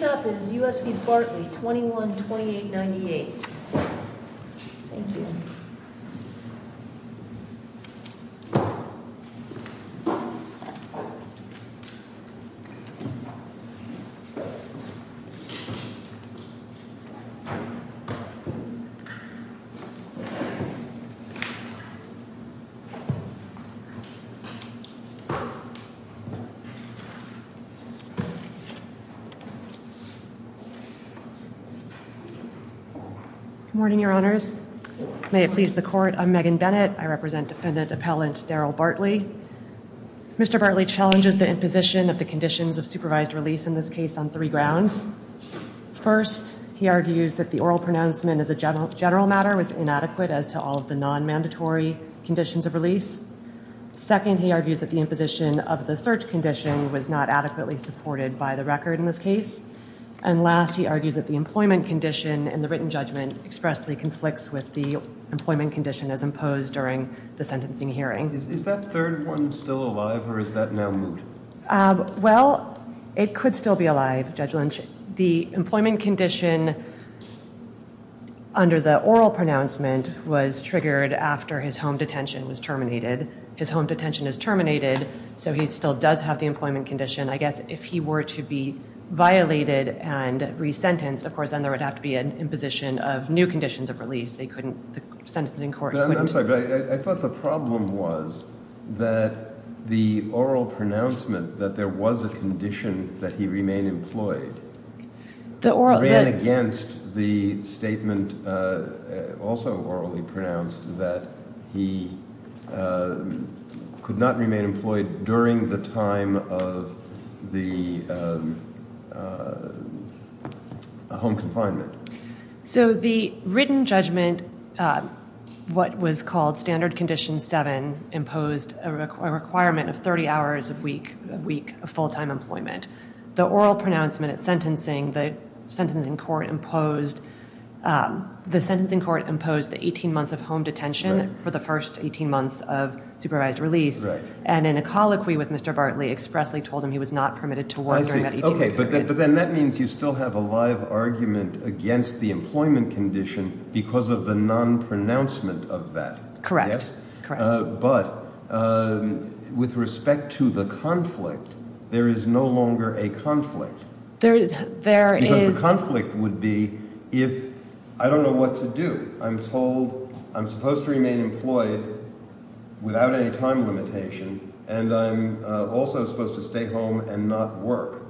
Next up is U.S. v. Bartley, 21-2898. Good morning, Your Honors. May it please the Court, I'm Megan Bennett. I represent Defendant Appellant Daryl Bartley. Mr. Bartley challenges the imposition of the conditions of supervised release in this case on three grounds. First, he argues that the oral pronouncement as a general matter was inadequate as to all of the non-mandatory conditions of release. Second, he argues that the imposition of the search condition was not adequately supported by the record in this case. And last, he argues that the employment condition in the written judgment expressly conflicts with the employment condition as imposed during the sentencing hearing. Is that third one still alive, or is that now moved? Well, it could still be alive, Judge Lynch. The employment condition under the oral pronouncement was triggered after his home detention was terminated. His home detention is terminated, so he still does have the employment condition. I guess if he were to be violated and resentenced, of course, then there would have to be an imposition of new conditions of release. I'm sorry, but I thought the problem was that the oral pronouncement, that there was a condition that he remain employed, ran against the statement, also orally pronounced, that he could not remain employed during the time of the home confinement. So the written judgment, what was called Standard Condition 7, imposed a requirement of 30 hours a week of full-time employment. The oral pronouncement at sentencing, the sentencing court imposed the 18 months of home detention for the first 18 months of supervised release. And in a colloquy with Mr. Bartley, expressly told him he was not permitted to work during that 18 month period. But then that means you still have a live argument against the employment condition because of the non-pronouncement of that. Correct. But with respect to the conflict, there is no longer a conflict. Because the conflict would be if, I don't know what to do. I'm told I'm supposed to remain employed without any time limitation. And I'm also supposed to stay home and not work.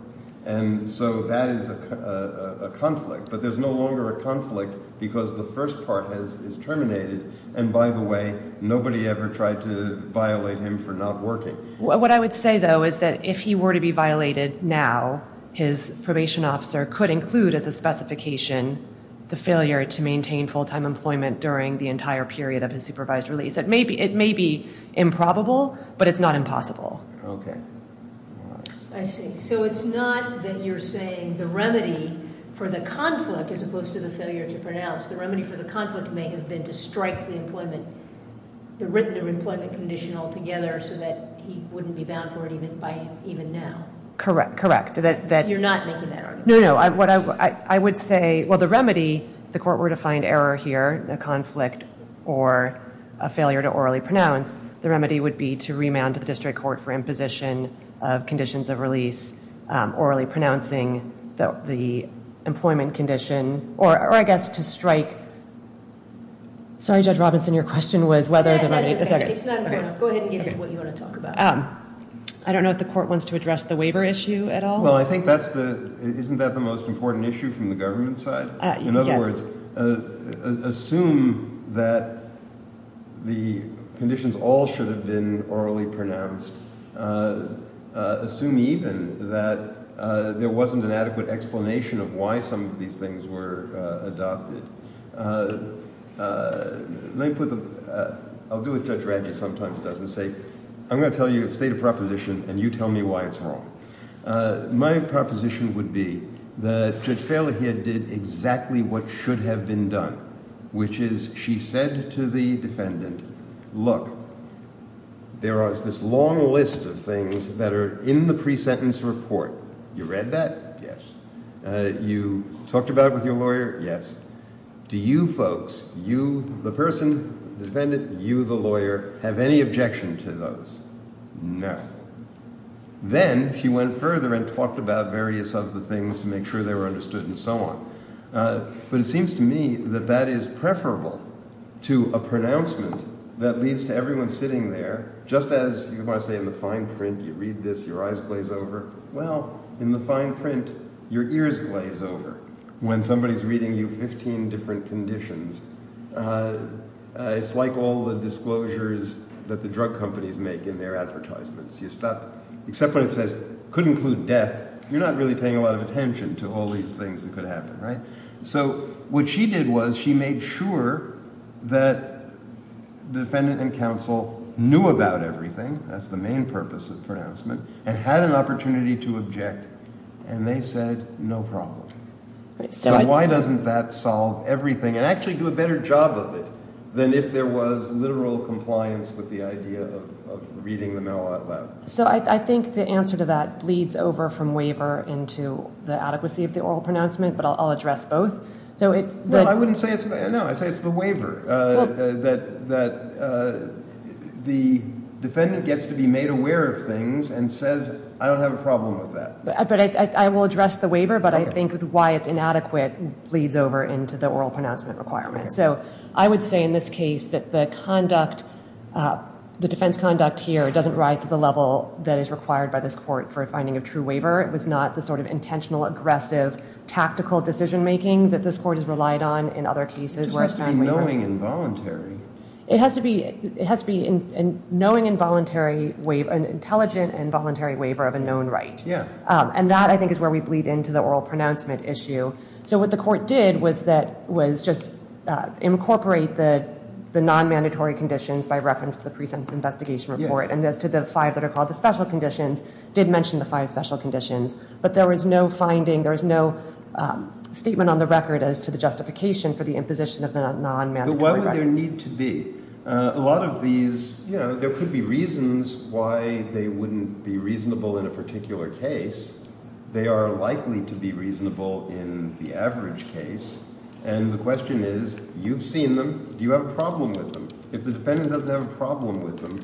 And so that is a conflict. But there's no longer a conflict because the first part is terminated. And by the way, nobody ever tried to violate him for not working. What I would say, though, is that if he were to be violated now, his probation officer could include as a specification the failure to maintain full-time employment during the entire period of his supervised release. It may be improbable, but it's not impossible. I see. So it's not that you're saying the remedy for the conflict as opposed to the failure to pronounce. The remedy for the conflict may have been to strike the written employment condition altogether so that he wouldn't be bound for it even now. You're not making that argument. Well, the remedy, if the court were to find error here, a conflict, or a failure to orally pronounce, the remedy would be to remand to the district court for imposition of conditions of release orally pronouncing the employment condition or, I guess, to strike. Sorry, Judge Robinson, your question was whether the remedy. It's not important. Go ahead and get to what you want to talk about. I don't know if the court wants to address the waiver issue at all. Isn't that the most important issue from the government side? In other words, assume that the conditions all should have been orally pronounced. Assume even that there wasn't an adequate explanation of why some of these things were adopted. I'll do what Judge Radley sometimes does and say, I'm going to tell you a state of proposition and you tell me why it's wrong. My proposition would be that Judge Fairlaher did exactly what should have been done, which is she said to the defendant, look, there is this long list of things that are in the pre-sentence report. You read that? Yes. You talked about it with your lawyer? Yes. Do you folks, you, the person, the defendant, you, the lawyer, have any objection to those? No. Then she went further and talked about various other things to make sure they were understood and so on. But it seems to me that that is preferable to a pronouncement that leads to everyone sitting there, just as you might say in the fine print, you read this, your eyes glaze over. Well, in the fine print, your ears glaze over when somebody is reading you 15 different conditions. It's like all the disclosures that the drug companies make in their advertisements. You stop except when it says could include death. You're not really paying a lot of attention to all these things that could happen. Right. So what she did was she made sure that the defendant and counsel knew about everything. That's the main purpose of pronouncement and had an opportunity to object. And they said, no problem. So why doesn't that solve everything and actually do a better job of it than if there was literal compliance with the idea of reading the mail out loud? So I think the answer to that bleeds over from waiver into the adequacy of the oral pronouncement, but I'll address both. No, I wouldn't say it's, no, I'd say it's the waiver that the defendant gets to be made aware of things and says, I don't have a problem with that. But I will address the waiver, but I think why it's inadequate bleeds over into the oral pronouncement requirement. So I would say in this case that the conduct, the defense conduct here doesn't rise to the level that is required by this court for finding a true waiver. It was not the sort of intentional, aggressive, tactical decision making that this court has relied on in other cases. It has to be knowing and voluntary. It has to be knowing and voluntary, an intelligent and voluntary waiver of a known right. And that I think is where we bleed into the oral pronouncement issue. So what the court did was just incorporate the non-mandatory conditions by reference to the pre-sentence investigation report and as to the five that are called the special conditions, did mention the five special conditions. But there was no finding, there was no statement on the record as to the justification for the imposition of the non-mandatory. What would there need to be? A lot of these, there could be reasons why they wouldn't be reasonable in a particular case. They are likely to be reasonable in the average case. And the question is, you've seen them, do you have a problem with them? If the defendant doesn't have a problem with them,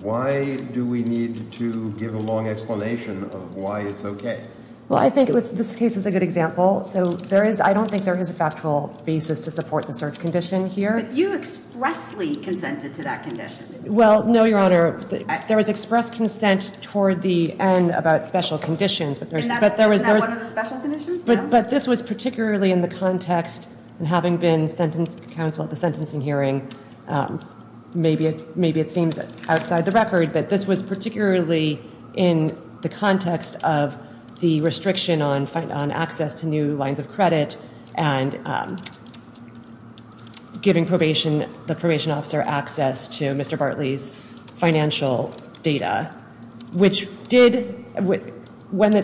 why do we need to give a long explanation of why it's okay? Well, I think this case is a good example. So there is, I don't think there is a factual basis to support the search condition here. But you expressly consented to that condition. Well, no, Your Honor. There was express consent toward the end about special conditions. Isn't that one of the special conditions? But this was particularly in the context, and having been sentencing counsel at the sentencing hearing, maybe it seems outside the record, but this was particularly in the context of the restriction on access to new lines of credit and giving the probation officer access to Mr. Bartley's financial data, which did, when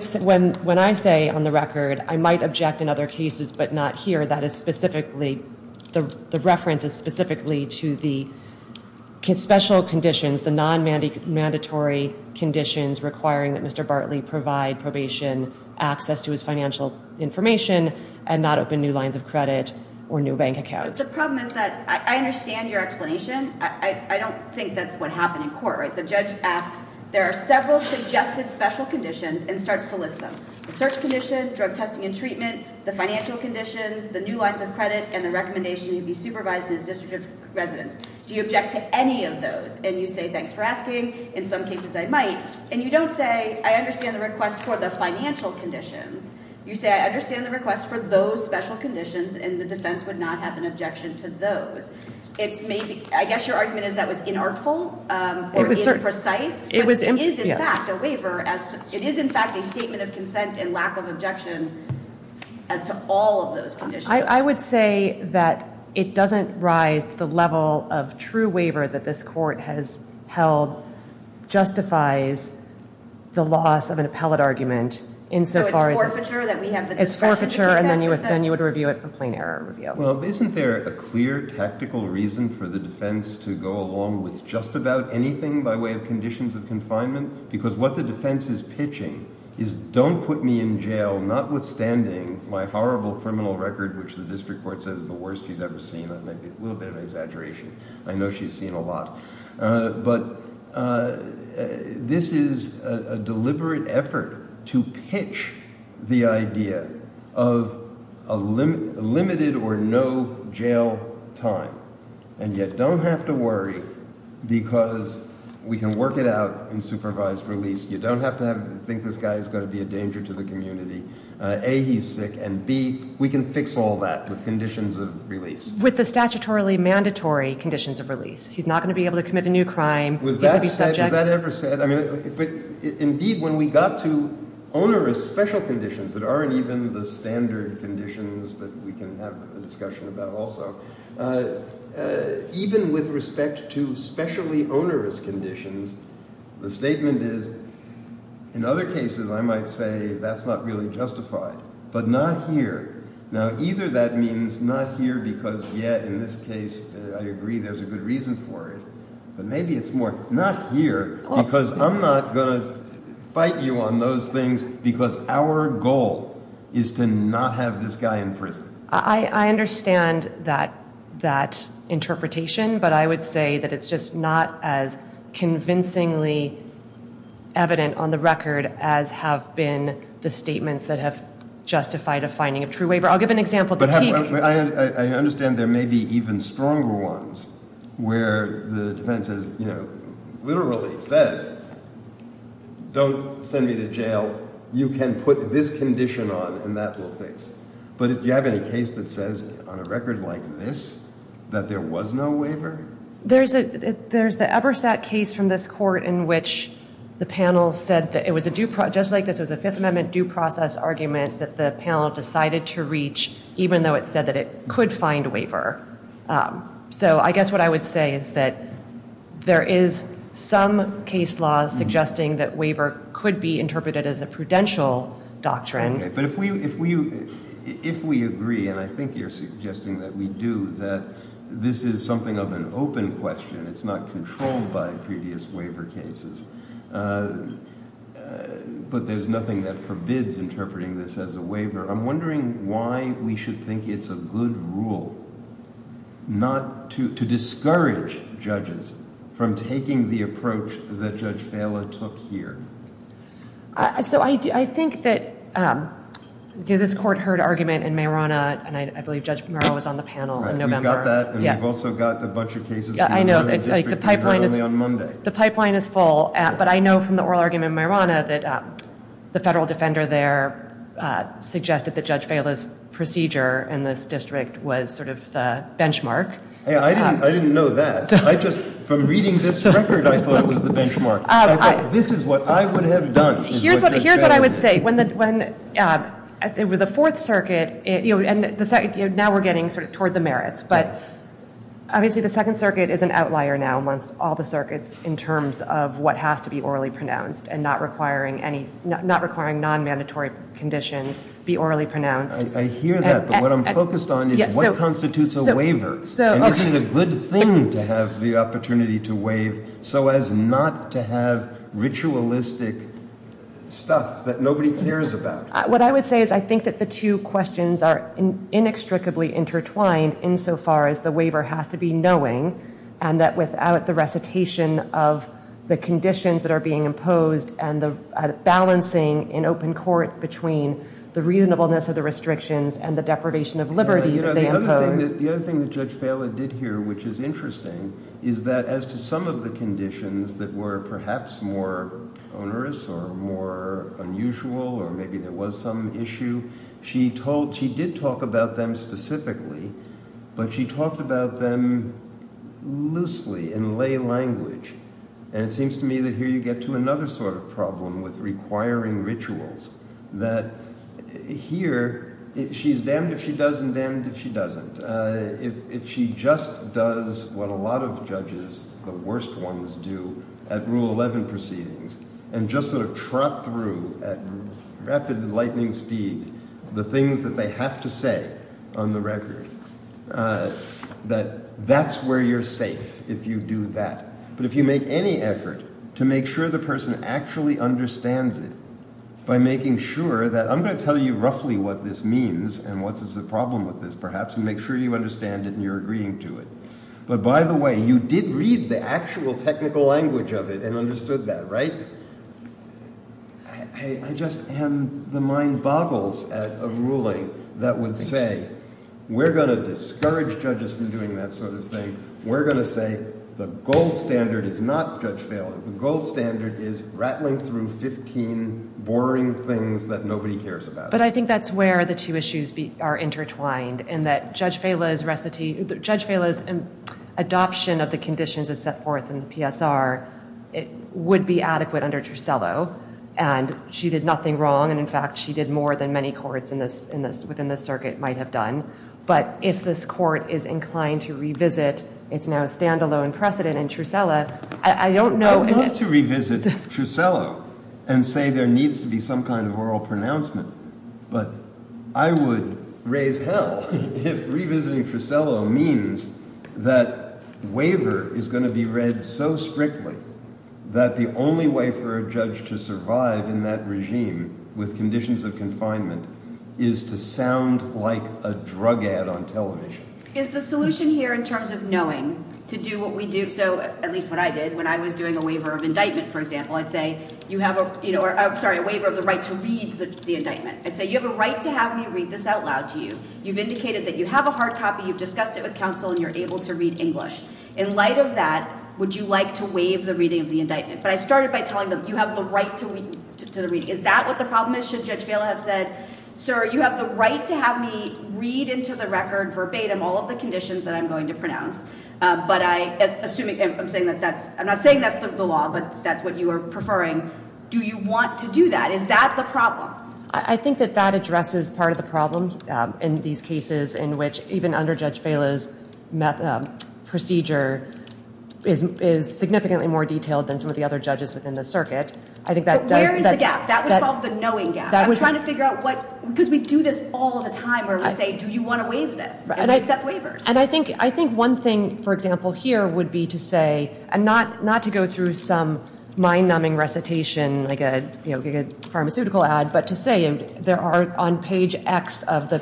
I say on the record, I might object in other cases, but not here. That is specifically, the reference is specifically to the special conditions, the non-mandatory conditions requiring that Mr. Bartley provide probation access to his financial information and not open new lines of credit or new bank accounts. The problem is that I understand your explanation. I don't think that's what happened in court. The judge asks, there are several suggested special conditions and starts to list them. The search condition, drug testing and treatment, the financial conditions, the new lines of credit, and the recommendation to be supervised as district residents. Do you object to any of those? And you say, thanks for asking. In some cases, I might. And you don't say, I understand the request for the financial conditions. You say, I understand the request for those special conditions, and the defense would not have an objection to those. I guess your argument is that was inartful or imprecise. It is, in fact, a waiver. It is, in fact, a statement of consent and lack of objection as to all of those conditions. I would say that it doesn't rise to the level of true waiver that this court has held justifies the loss of an appellate argument. So it's forfeiture? It's forfeiture, and then you would review it for plain error review. Well, isn't there a clear tactical reason for the defense to go along with just about anything by way of conditions of confinement? Because what the defense is pitching is, don't put me in jail, notwithstanding my horrible criminal record, which the district court says is the worst she's ever seen. That might be a little bit of an exaggeration. I know she's seen a lot. But this is a deliberate effort to pitch the idea of a limited or no jail time, and yet don't have to worry because we can work it out in supervised release. You don't have to think this guy's going to be a danger to the community. A, he's sick, and B, we can fix all that with conditions of release. With the statutorily mandatory conditions of release. He's not going to be able to commit a new crime. Was that ever said? Indeed, when we got to onerous special conditions that aren't even the standard conditions that we can have a discussion about also, even with respect to specially onerous conditions, the statement is, in other cases I might say that's not really justified, but not here. Now either that means not here because, yeah, in this case I agree there's a good reason for it, but maybe it's more, not here because I'm not going to fight you on those things because our goal is to not have this guy in prison. I understand that interpretation, but I would say that it's just not as convincingly evident on the record as have been the statements that have justified a finding of true waiver. I'll give an example. I understand there may be even stronger ones where the defendant says, literally says, don't send me to jail. You can put this condition on and that will fix. But do you have any case that says on a record like this that there was no waiver? There's the Eberstadt case from this court in which the panel said, just like this, it was a Fifth Amendment due process argument that the panel decided to reach even though it said that it could find waiver. So I guess what I would say is that there is some case law suggesting that waiver could be interpreted as a confidential doctrine. But if we agree, and I think you're suggesting that we do, that this is something of an open question. It's not controlled by previous waiver cases. But there's nothing that forbids interpreting this as a waiver. I'm wondering why we should think it's a good rule not to take the approach that Judge Fala took here. I think that this court heard argument in Marana, and I believe Judge Mara was on the panel in November. We've got that, and we've also got a bunch of cases. The pipeline is full, but I know from the oral argument in Marana that the federal defender there suggested that Judge Fala's procedure in this district was sort of the benchmark. I didn't know that. From reading this record, I thought it was the benchmark. This is what I would have done. Here's what I would say. With the Fourth Circuit, and now we're getting toward the merits, but obviously the Second Circuit is an outlier now amongst all the circuits in terms of what has to be orally pronounced and not requiring non-mandatory conditions be orally pronounced. I hear that, but what I'm focused on is what constitutes a waiver, and is it a good thing to have the opportunity to waive so as not to have ritualistic stuff that nobody cares about? What I would say is I think that the two questions are inextricably intertwined insofar as the waiver has to be knowing, and that without the recitation of the conditions that are being imposed and the balancing in open court between the reasonableness of the restrictions and the deprivation of liberty that they impose. The other thing that Judge Fala did here, which is interesting, is that as to some of the conditions that were perhaps more onerous or more unusual or maybe there was some issue, she did talk about them in lay language, and it seems to me that here you get to another sort of problem with requiring rituals, that here she's damned if she does and damned if she doesn't. If she just does what a lot of judges, the worst ones, do at Rule 11 proceedings and just sort of trot through at rapid lightning speed the things that they have to say on the record, that that's where you're safe if you do that. But if you make any effort to make sure the person actually understands it by making sure that I'm going to tell you roughly what this means and what is the problem with this perhaps, and make sure you understand it and you're agreeing to it. But by the way, you did read the actual technical language of it and understood that, right? I just am, the mind boggles at a ruling that would say we're going to discourage judges from doing that sort of thing. We're going to say the gold standard is not Judge Phelan. The gold standard is rattling through 15 boring things that nobody cares about. But I think that's where the two issues are intertwined in that Judge Phelan's adoption of the conditions as set forth in the PSR would be adequate under Trussello. And she did nothing wrong. And in fact, she did more than many courts within this circuit might have done. But if this court is inclined to revisit it's now a standalone precedent in Trussello, I don't know... I'd love to revisit Trussello and say there needs to be some kind of oral pronouncement. But I would raise hell if revisiting Trussello means that waiver is going to be read so strictly that the only way for a judge to survive in that regime with conditions of confinement is to sound like a drug ad on television. Is the solution here in terms of knowing to do what we do, so at least what I did when I was doing a waiver of indictment, for example, I'd say you have a waiver of the right to read the indictment. I'd say you have a right to have me read this out loud to you. You've indicated that you have a hard copy. You've discussed it with counsel and you're able to read English. In light of that, would you like to waive the reading of the indictment? But I started by telling them you have the right to the reading. Is that what the problem is? Should Judge Phelan have said sir, you have the right to have me read into the record verbatim all of the conditions that I'm going to pronounce. I'm not saying that's the law, but that's what you are preferring. Do you want to do that? Is that the problem? I think that that addresses part of the problem in these cases in which even under Judge Phelan's procedure is significantly more detailed than some of the other judges within the circuit. But where is the gap? That would solve the knowing gap. I'm trying to figure out because we do this all of the time where we say, do you want to waive this? Do you accept waivers? I think one thing, for example, here would be to say, and not to go through some mind-numbing recitation like a pharmaceutical ad, but to say there are on page X of the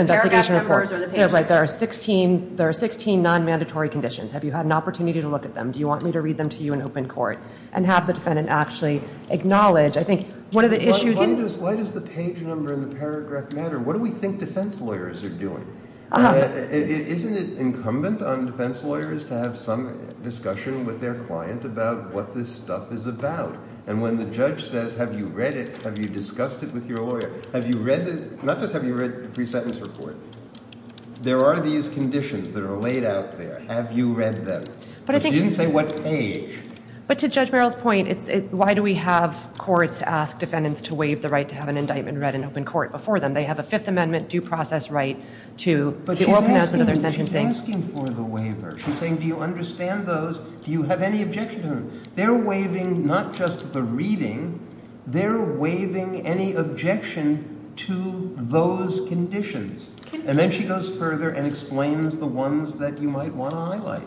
investigation report, there are 16 non-mandatory conditions. Have you had an opportunity to look at them? Do you want me to read them to you in open court? And have the defendant actually acknowledge. I think one of the issues... Why does the page number and the paragraph matter? What do we think defense lawyers are doing? Isn't it incumbent on defense lawyers to have some discussion with their client about what this stuff is about? And when the judge says, have you read it? Have you discussed it with your lawyer? Not just have you read the pre-sentence report. There are these conditions that are laid out there. Have you read them? But you didn't say what page. But to Judge Merrill's point, why do we have courts ask defendants to waive the right to have an indictment read in open court before them? They have a Fifth Amendment due process right to the oral pronouncement of their sentencing. She's asking for the waiver. She's saying, do you understand those? Do you have any objection to them? They're waiving not just the reading. They're waiving any objection to those conditions. And then she goes further and explains the ones that you might want to highlight.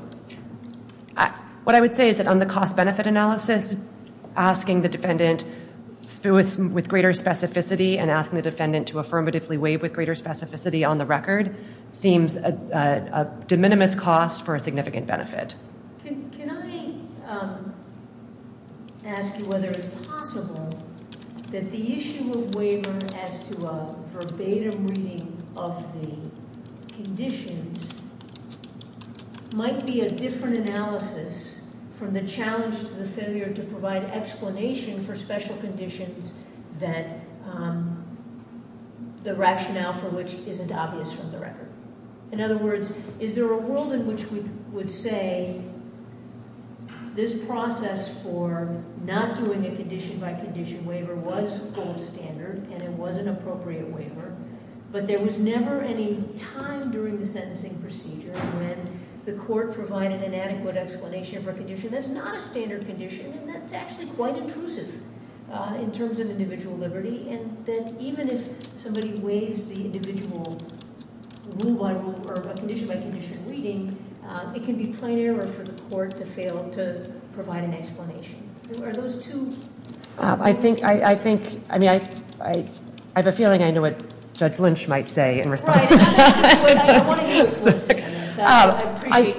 What I would say is that on the cost benefit analysis, asking the defendant with greater specificity and asking the defendant to affirmatively waive with greater specificity on the record seems a de minimis cost for a significant benefit. Can I ask you whether it's possible that the issue of waiver as to a verbatim reading of the conditions might be a different analysis from the challenge to the failure to provide explanation for special conditions that the rationale for which isn't obvious from the record? In other words, is there a world in which we would say this process for not doing a condition by condition waiver was gold standard and it was an appropriate waiver, but there was never any time during the sentencing procedure when the court provided an adequate explanation for a condition that's not a standard condition and that's actually quite intrusive in terms of individual liberty and that even if somebody waives the individual rule by rule or condition by condition reading, it can be plain error for the court to fail to provide an explanation. Are those two? I think, I mean, I have a feeling I know what Judge Lynch might say in response. I appreciate.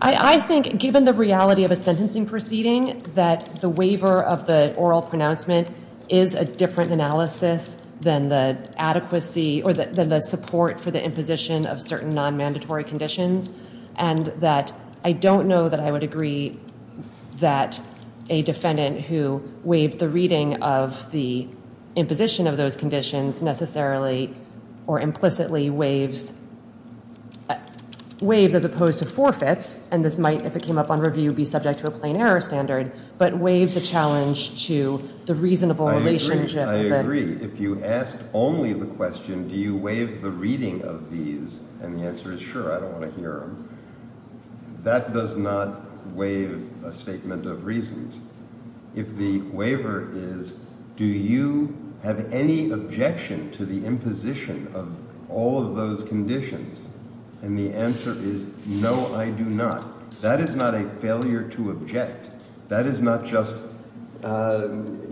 I think given the reality of a sentencing proceeding that the waiver of the oral pronouncement is a different analysis than the adequacy or the support for the imposition of certain non-mandatory conditions and that I don't know that I would agree that a defendant who waived the reading of the imposition of those conditions necessarily or implicitly waives as opposed to forfeits and this might, if it came up on review, be subject to a plain error standard, but waives a challenge to the reasonable relationship. I agree. If you asked only the question, do you waive the reading of these? And the answer is sure. I don't want to hear them. That does not waive a statement of reasons. If the waiver is, do you have any objection to the imposition of all of those conditions? And the answer is no, I do not. That is not a failure to object. That is not just, you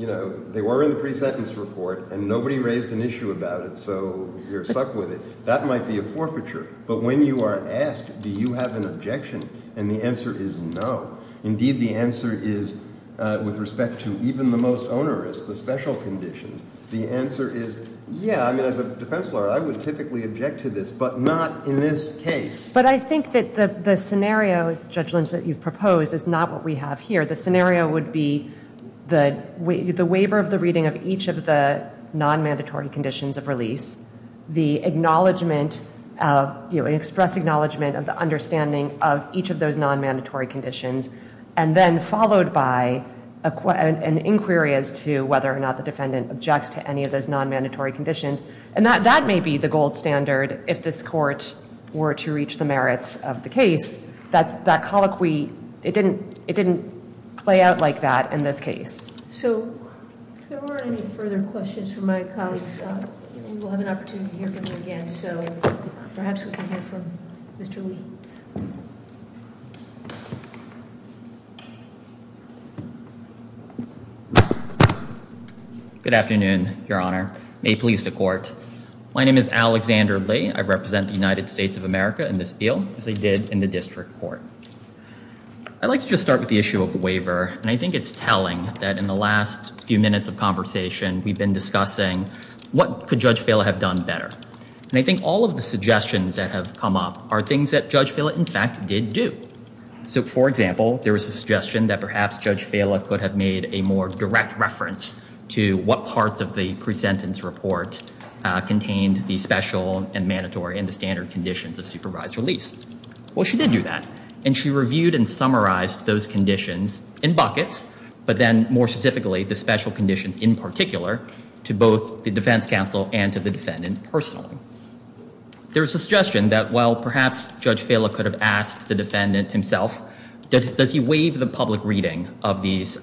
know, they were in the pre-sentence report and nobody raised an issue about it, so you're stuck with it. That might be a forfeiture. But when you are asked, do you have an objection? And the answer is no. Indeed, the answer is with respect to even the most onerous, the special conditions, the answer is yeah. I mean, as a defense lawyer, I would typically object to this, but not in this case. But I think that the scenario, Judge Lynch, that you've proposed is not what we have here. The scenario would be the waiver of the reading of each of the non-mandatory conditions of release, the acknowledgement, you know, express acknowledgement of the understanding of each of those non-mandatory conditions, and then followed by an inquiry as to whether or not the defendant objects to any of those non-mandatory conditions. And that may be the gold standard if this court were to reach the merits of the case. That colloquy, it didn't play out like that in this case. So if there weren't any further questions from my colleagues, we will have an opportunity to hear from them again. So perhaps we can hear from Mr. Lee. Good afternoon, Your Honor. May it please the Court. My name is Alexander Lee. I represent the United States of America in this deal, as I did in the District Court. I'd like to just start with the issue of the waiver. And I think it's telling that in the last few minutes of conversation, we've been discussing what could Judge Fela have done better. And I think all of the suggestions that have come up are things that Judge Fela, in fact, did do. So, for example, there was a suggestion that perhaps Judge Fela could have made a more direct reference to what parts of the pre-sentence report contained the special and mandatory and the standard conditions of supervised release. Well, she did do that. And she reviewed and summarized those conditions in buckets, but then more specifically, the special conditions in particular to both the defense counsel and to the defendant personally. There was a suggestion that, well, perhaps Judge Fela could have asked the defendant himself, does he waive the public reading of these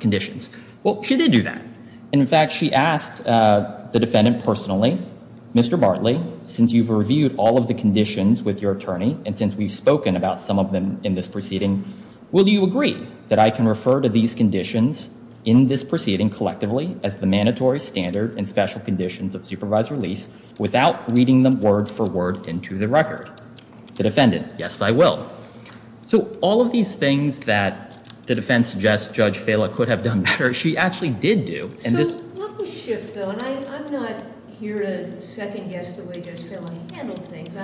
conditions? Well, she did do that. And, in fact, she asked the defendant personally, Mr. Bartley, since you've reviewed all of the conditions with your attorney and since we've spoken about some of them in this proceeding, will you agree that I can refer to these conditions in this proceeding collectively as the mandatory, standard and special conditions of supervised release without reading them word for word into the record? The defendant, yes, I will. So all of these things that the defense suggests Judge Fela could have done better, she actually did do. So let me shift, though, and I'm not here to second-guess the way Judge Fela handled things,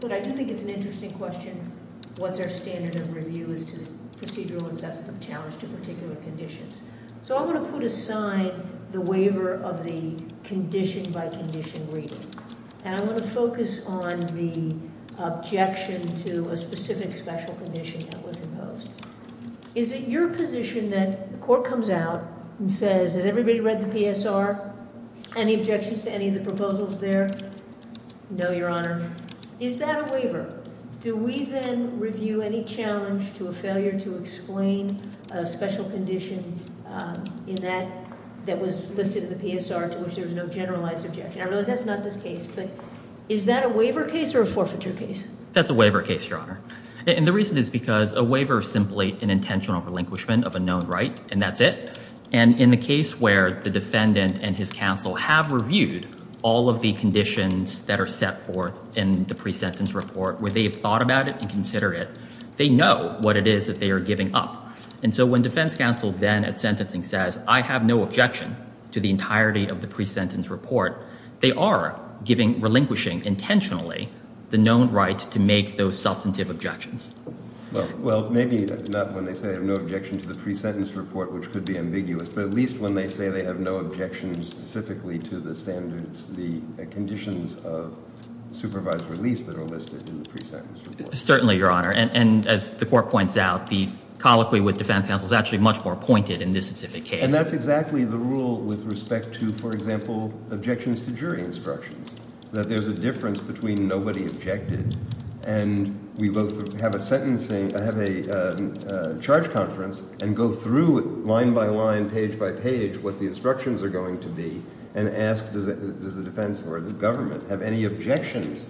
but I do think it's an interesting question, what's our standard of review as to procedural and substantive challenge to particular conditions? So I want to put aside the waiver of the condition-by-condition reading, and I want to focus on the objection to a specific special condition that was imposed. Is it your position that the court comes out and says, has everybody read the PSR? Any objections to any of the proposals there? No, Your Honor. Is that a waiver? Do we then review any challenge to a failure to explain a special condition in that that was listed in the PSR to which there was no generalized objection? I realize that's not this case, but is that a waiver case or a forfeiture case? That's a waiver case, Your Honor. And the reason is because a waiver is simply an intentional relinquishment of a known right, and that's it. And in the case where the defendant and his counsel have reviewed all of the conditions that are set forth in the pre-sentence report, where they have thought about it and considered it, they know what it is that they are giving up. And so when defense counsel then at sentencing says, I have no objection to the entirety of the pre-sentence report, they are relinquishing intentionally the known right to make those substantive objections. Well, maybe not when they say they have no objection to the pre-sentence report, which could be ambiguous, but at least when they say they have no objection specifically to the standards, the conditions of supervised release that are listed in the pre-sentence report. Certainly, Your Honor. And as the Court points out, the colloquy with defense counsel is actually much more pointed in this specific case. And that's exactly the rule with respect to, for example, objections to jury instructions, that there's a difference between nobody objected and we both have a charge conference and go through line by line, page by page, what the instructions are going to be and ask, does the defense or the government have any objections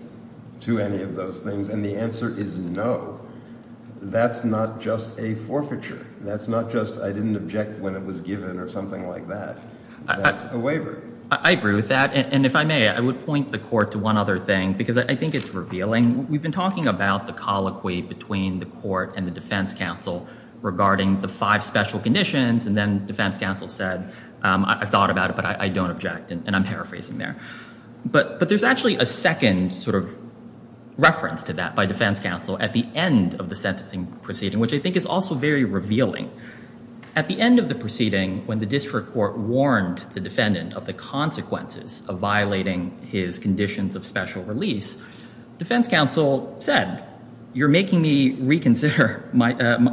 to any of those things? And the answer is no. That's not just a forfeiture. That's not just I didn't object when it was given or something like that. That's a waiver. I agree with that. And if I may, I would point the Court to one other thing because I think it's revealing. We've been talking about the colloquy between the Court and the defense counsel regarding the five special conditions and then defense counsel said, I've thought about it, but I don't object. And I'm paraphrasing there. But there's actually a second sort of reference to that by defense counsel at the end of the sentencing proceeding, which I think is also very revealing. At the end of the proceeding, when the district court warned the defendant of the consequences of violating his conditions of special release, defense counsel said, you're making me reconsider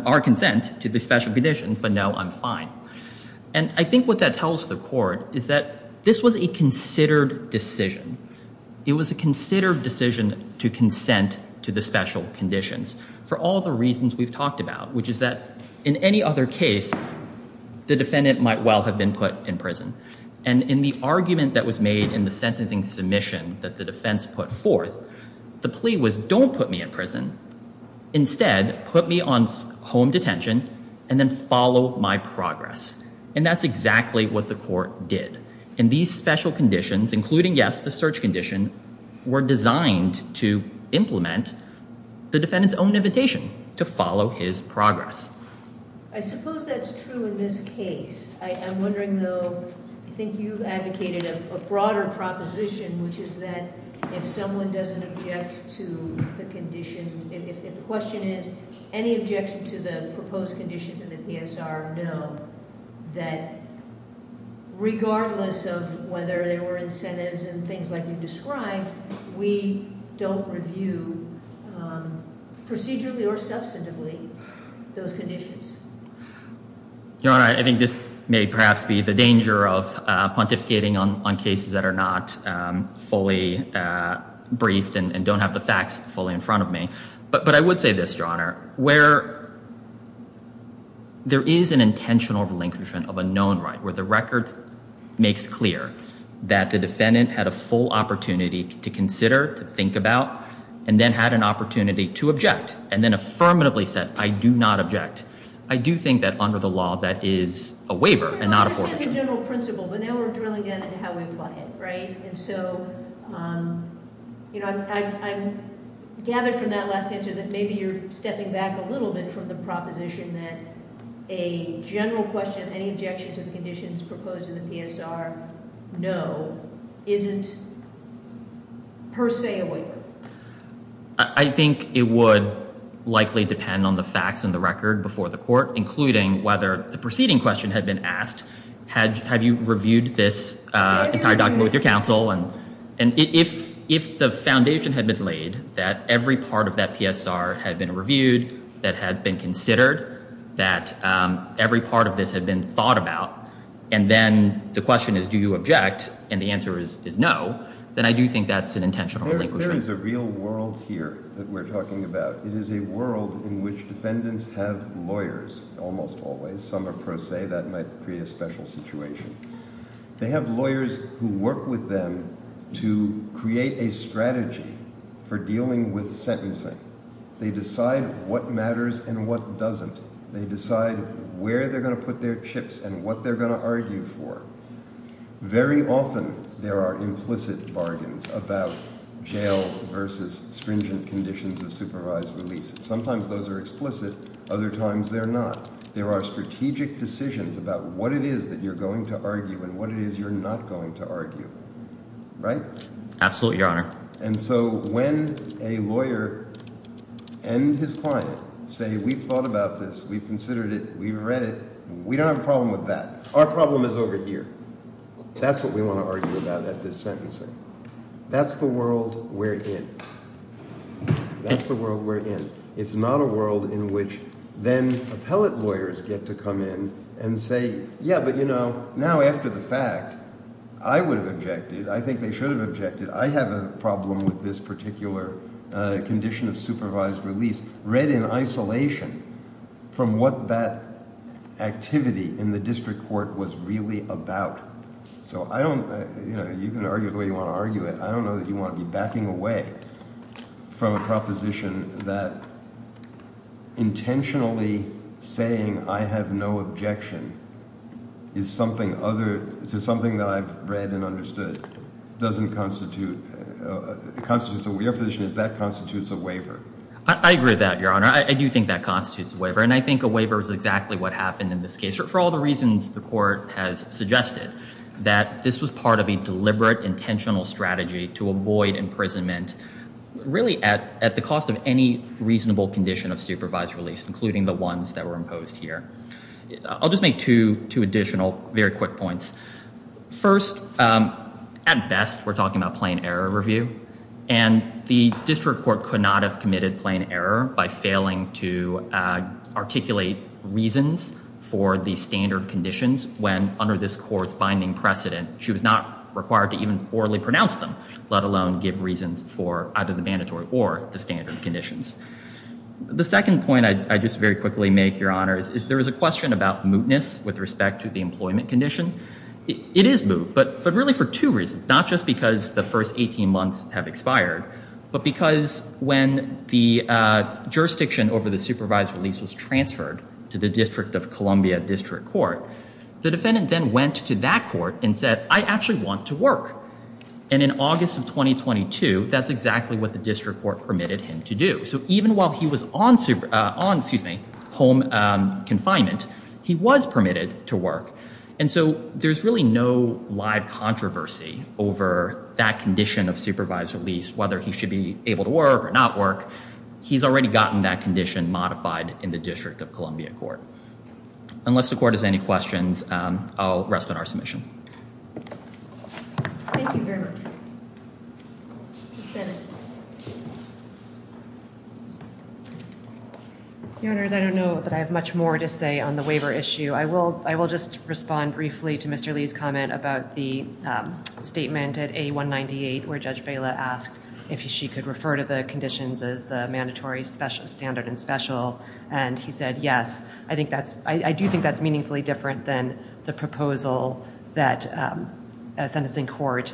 our consent to the special conditions, but no, I'm fine. And I think what that tells the Court is that this was a considered decision. It was a considered decision to consent to the special conditions for all the reasons we've talked about, which is that in any other case, the defendant might well have been put in prison. And in the argument that was made in the sentencing submission that the defense put forth, the plea was, don't put me in prison. Instead, put me on home detention and then follow my progress. And that's exactly what the Court did. And these special conditions, including yes, the search condition, were designed to implement the defendant's own invitation to follow his progress. I suppose that's true in this case. I'm wondering, though, I think you've advocated a broader proposition, which is that if someone doesn't object to the conditions, if the question is, any objection to the proposed conditions in the PSR, no, that regardless of whether there were incentives and things like you described, we don't review procedurally or substantively those conditions. Your Honor, I think this may perhaps be the danger of pontificating on cases that are not fully briefed and don't have the facts fully in front of me. But I would say this, Your Honor, where there is an intentional relinquishment of a known right where the record makes clear that the defendant had a full opportunity to consider, to think about, and then had an opportunity to object and then affirmatively said, I do not object. I do think that under the law that is a waiver and not a forfeiture. I understand the general principle, but now we're drilling down into how we apply it, right? And so I'm gathered from that last answer that maybe you're stepping back a little bit from the proposition that a general question, any objection to the conditions proposed in the PSR, no, isn't per se a waiver. I think it would likely depend on the facts and the record before the court, including whether the preceding question had been asked, have you reviewed this entire document with your counsel? And if the foundation had been laid that every part of that PSR had been reviewed, that had been considered, that every part of this had been thought about, and then the question is, do you object? And the answer is no, then I do think that's an intentional relinquishment. There is a real world here that we're talking about. It is a world in which defendants have lawyers, almost always. Some are per se. That might create a special situation. They have lawyers who work with them to create a strategy for dealing with sentencing. They decide what matters and what doesn't. They decide where they're going to put their chips and what they're going to argue for. Very often there are implicit bargains about jail versus stringent conditions of supervised release. Sometimes those are explicit. Other times they're not. There are strategic decisions about what it is that you're going to argue and what it is you're not going to argue. Right? Absolutely, Your Honor. And so when a lawyer and his client say we've thought about this, we've considered it, we've read it, we don't have a problem with that. Our problem is over here. That's what we want to argue about at this sentencing. That's the world we're in. It's not a world in which then appellate lawyers get to come in and say, yeah, but you know, now after the fact, I would have objected. I think they should have objected. I have a problem with this particular condition of supervised release read in isolation from what that activity in the district court was really about. So I don't... from a proposition that intentionally saying I have no objection is something that I've read and understood. Your position is that constitutes a waiver. I agree with that, Your Honor. I do think that constitutes a waiver. And I think a waiver is exactly what happened in this case for all the reasons the court has suggested. That this was part of a deliberate, intentional strategy to avoid imprisonment really at the cost of any reasonable condition of supervised release, including the ones that were imposed here. I'll just make two additional very quick points. First, at best we're talking about plain error review. And the district court could not have committed plain error by failing to articulate reasons for the standard conditions when under this court's binding precedent, she was not required to even orally pronounce them, let alone give reasons for either the mandatory or the standard conditions. The second point I just very quickly make, Your Honor, is there is a question about mootness with respect to the employment condition. It is moot, but really for two reasons. Not just because the first 18 months have expired, but because when the jurisdiction over the supervised release was transferred to the District of Columbia District Court, the defendant then went to that court and said, I actually want to work. And in August of 2022, that's exactly what the district court permitted him to do. So even while he was on home confinement, he was permitted to work. And so there's really no live controversy over that condition of supervised release, whether he should be able to work or not work. He's already gotten that condition modified in the District of Columbia Court. Unless the court has any questions, I'll rest on our submission. Thank you very much. Judge Bennett. Your Honor, I don't know that I have much more to say on the waiver issue. I will just respond briefly to Mr. Lee's comment about the statement at A198 where Judge Vaila asked if she could refer to the conditions as mandatory, standard, and special. And he said yes. I do think that's meaningfully different than the proposal that a sentencing court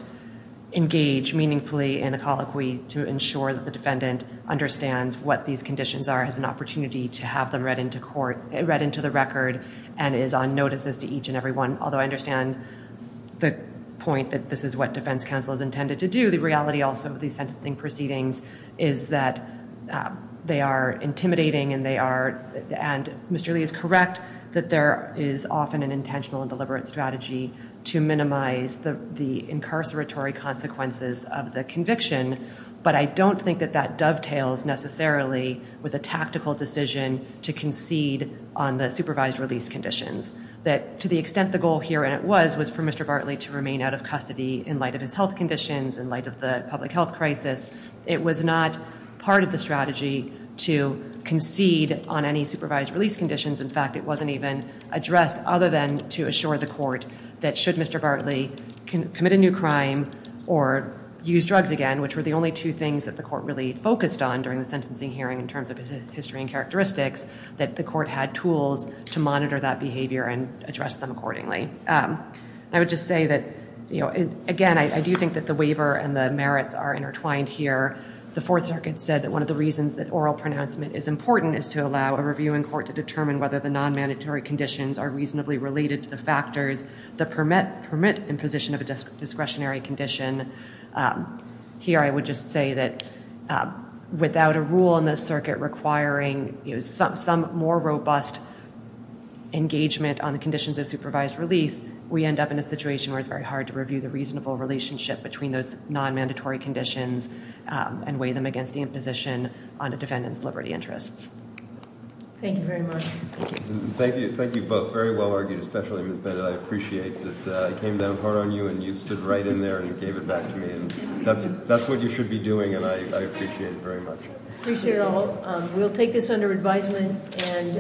engage meaningfully in a colloquy to ensure that the defendant understands what these conditions are, has an opportunity to have them read into court, read into the record, and is on notice as to each and every one. Although I understand the point that this is what defense counsel has intended to do, the reality also of these sentencing proceedings is that they are intimidating and they are, and Mr. Lee is correct that there is often an intentional and deliberate strategy to minimize the incarceratory consequences of the conviction. But I don't think that that dovetails necessarily with a tactical decision to concede on the supervised release conditions. To the extent the goal here was for Mr. Bartley to remain out of custody in light of his health conditions, in light of the public health crisis, it was not part of the strategy to concede on any supervised release conditions. In fact, it wasn't even addressed other than to assure the court that should Mr. Bartley commit a new crime or use drugs again, which were the only two things that the court really focused on during the sentencing hearing in terms of his history and characteristics, that the court had tools to monitor that behavior and address them accordingly. I would just say that again, I do think that the waiver and the merits are intertwined here. The Fourth Circuit said that one of the reasons that oral pronouncement is important is to allow a reviewing court to determine whether the non-mandatory conditions are reasonably related to the factors that permit imposition of a discretionary condition. Here I would just say that without a rule in the circuit requiring some more robust engagement on the conditions of supervised release, we end up in a situation where it's very hard to review the reasonable relationship between those non-mandatory conditions and weigh them against the imposition on the defendant's liberty interests. Thank you very much. Thank you. Thank you both. Very well argued, especially Ms. Bennett. I appreciate that I came down hard on you and you stood right in there and gave it back to me. That's what you should be doing and I appreciate it very much. Appreciate it all. We'll take this under advisement.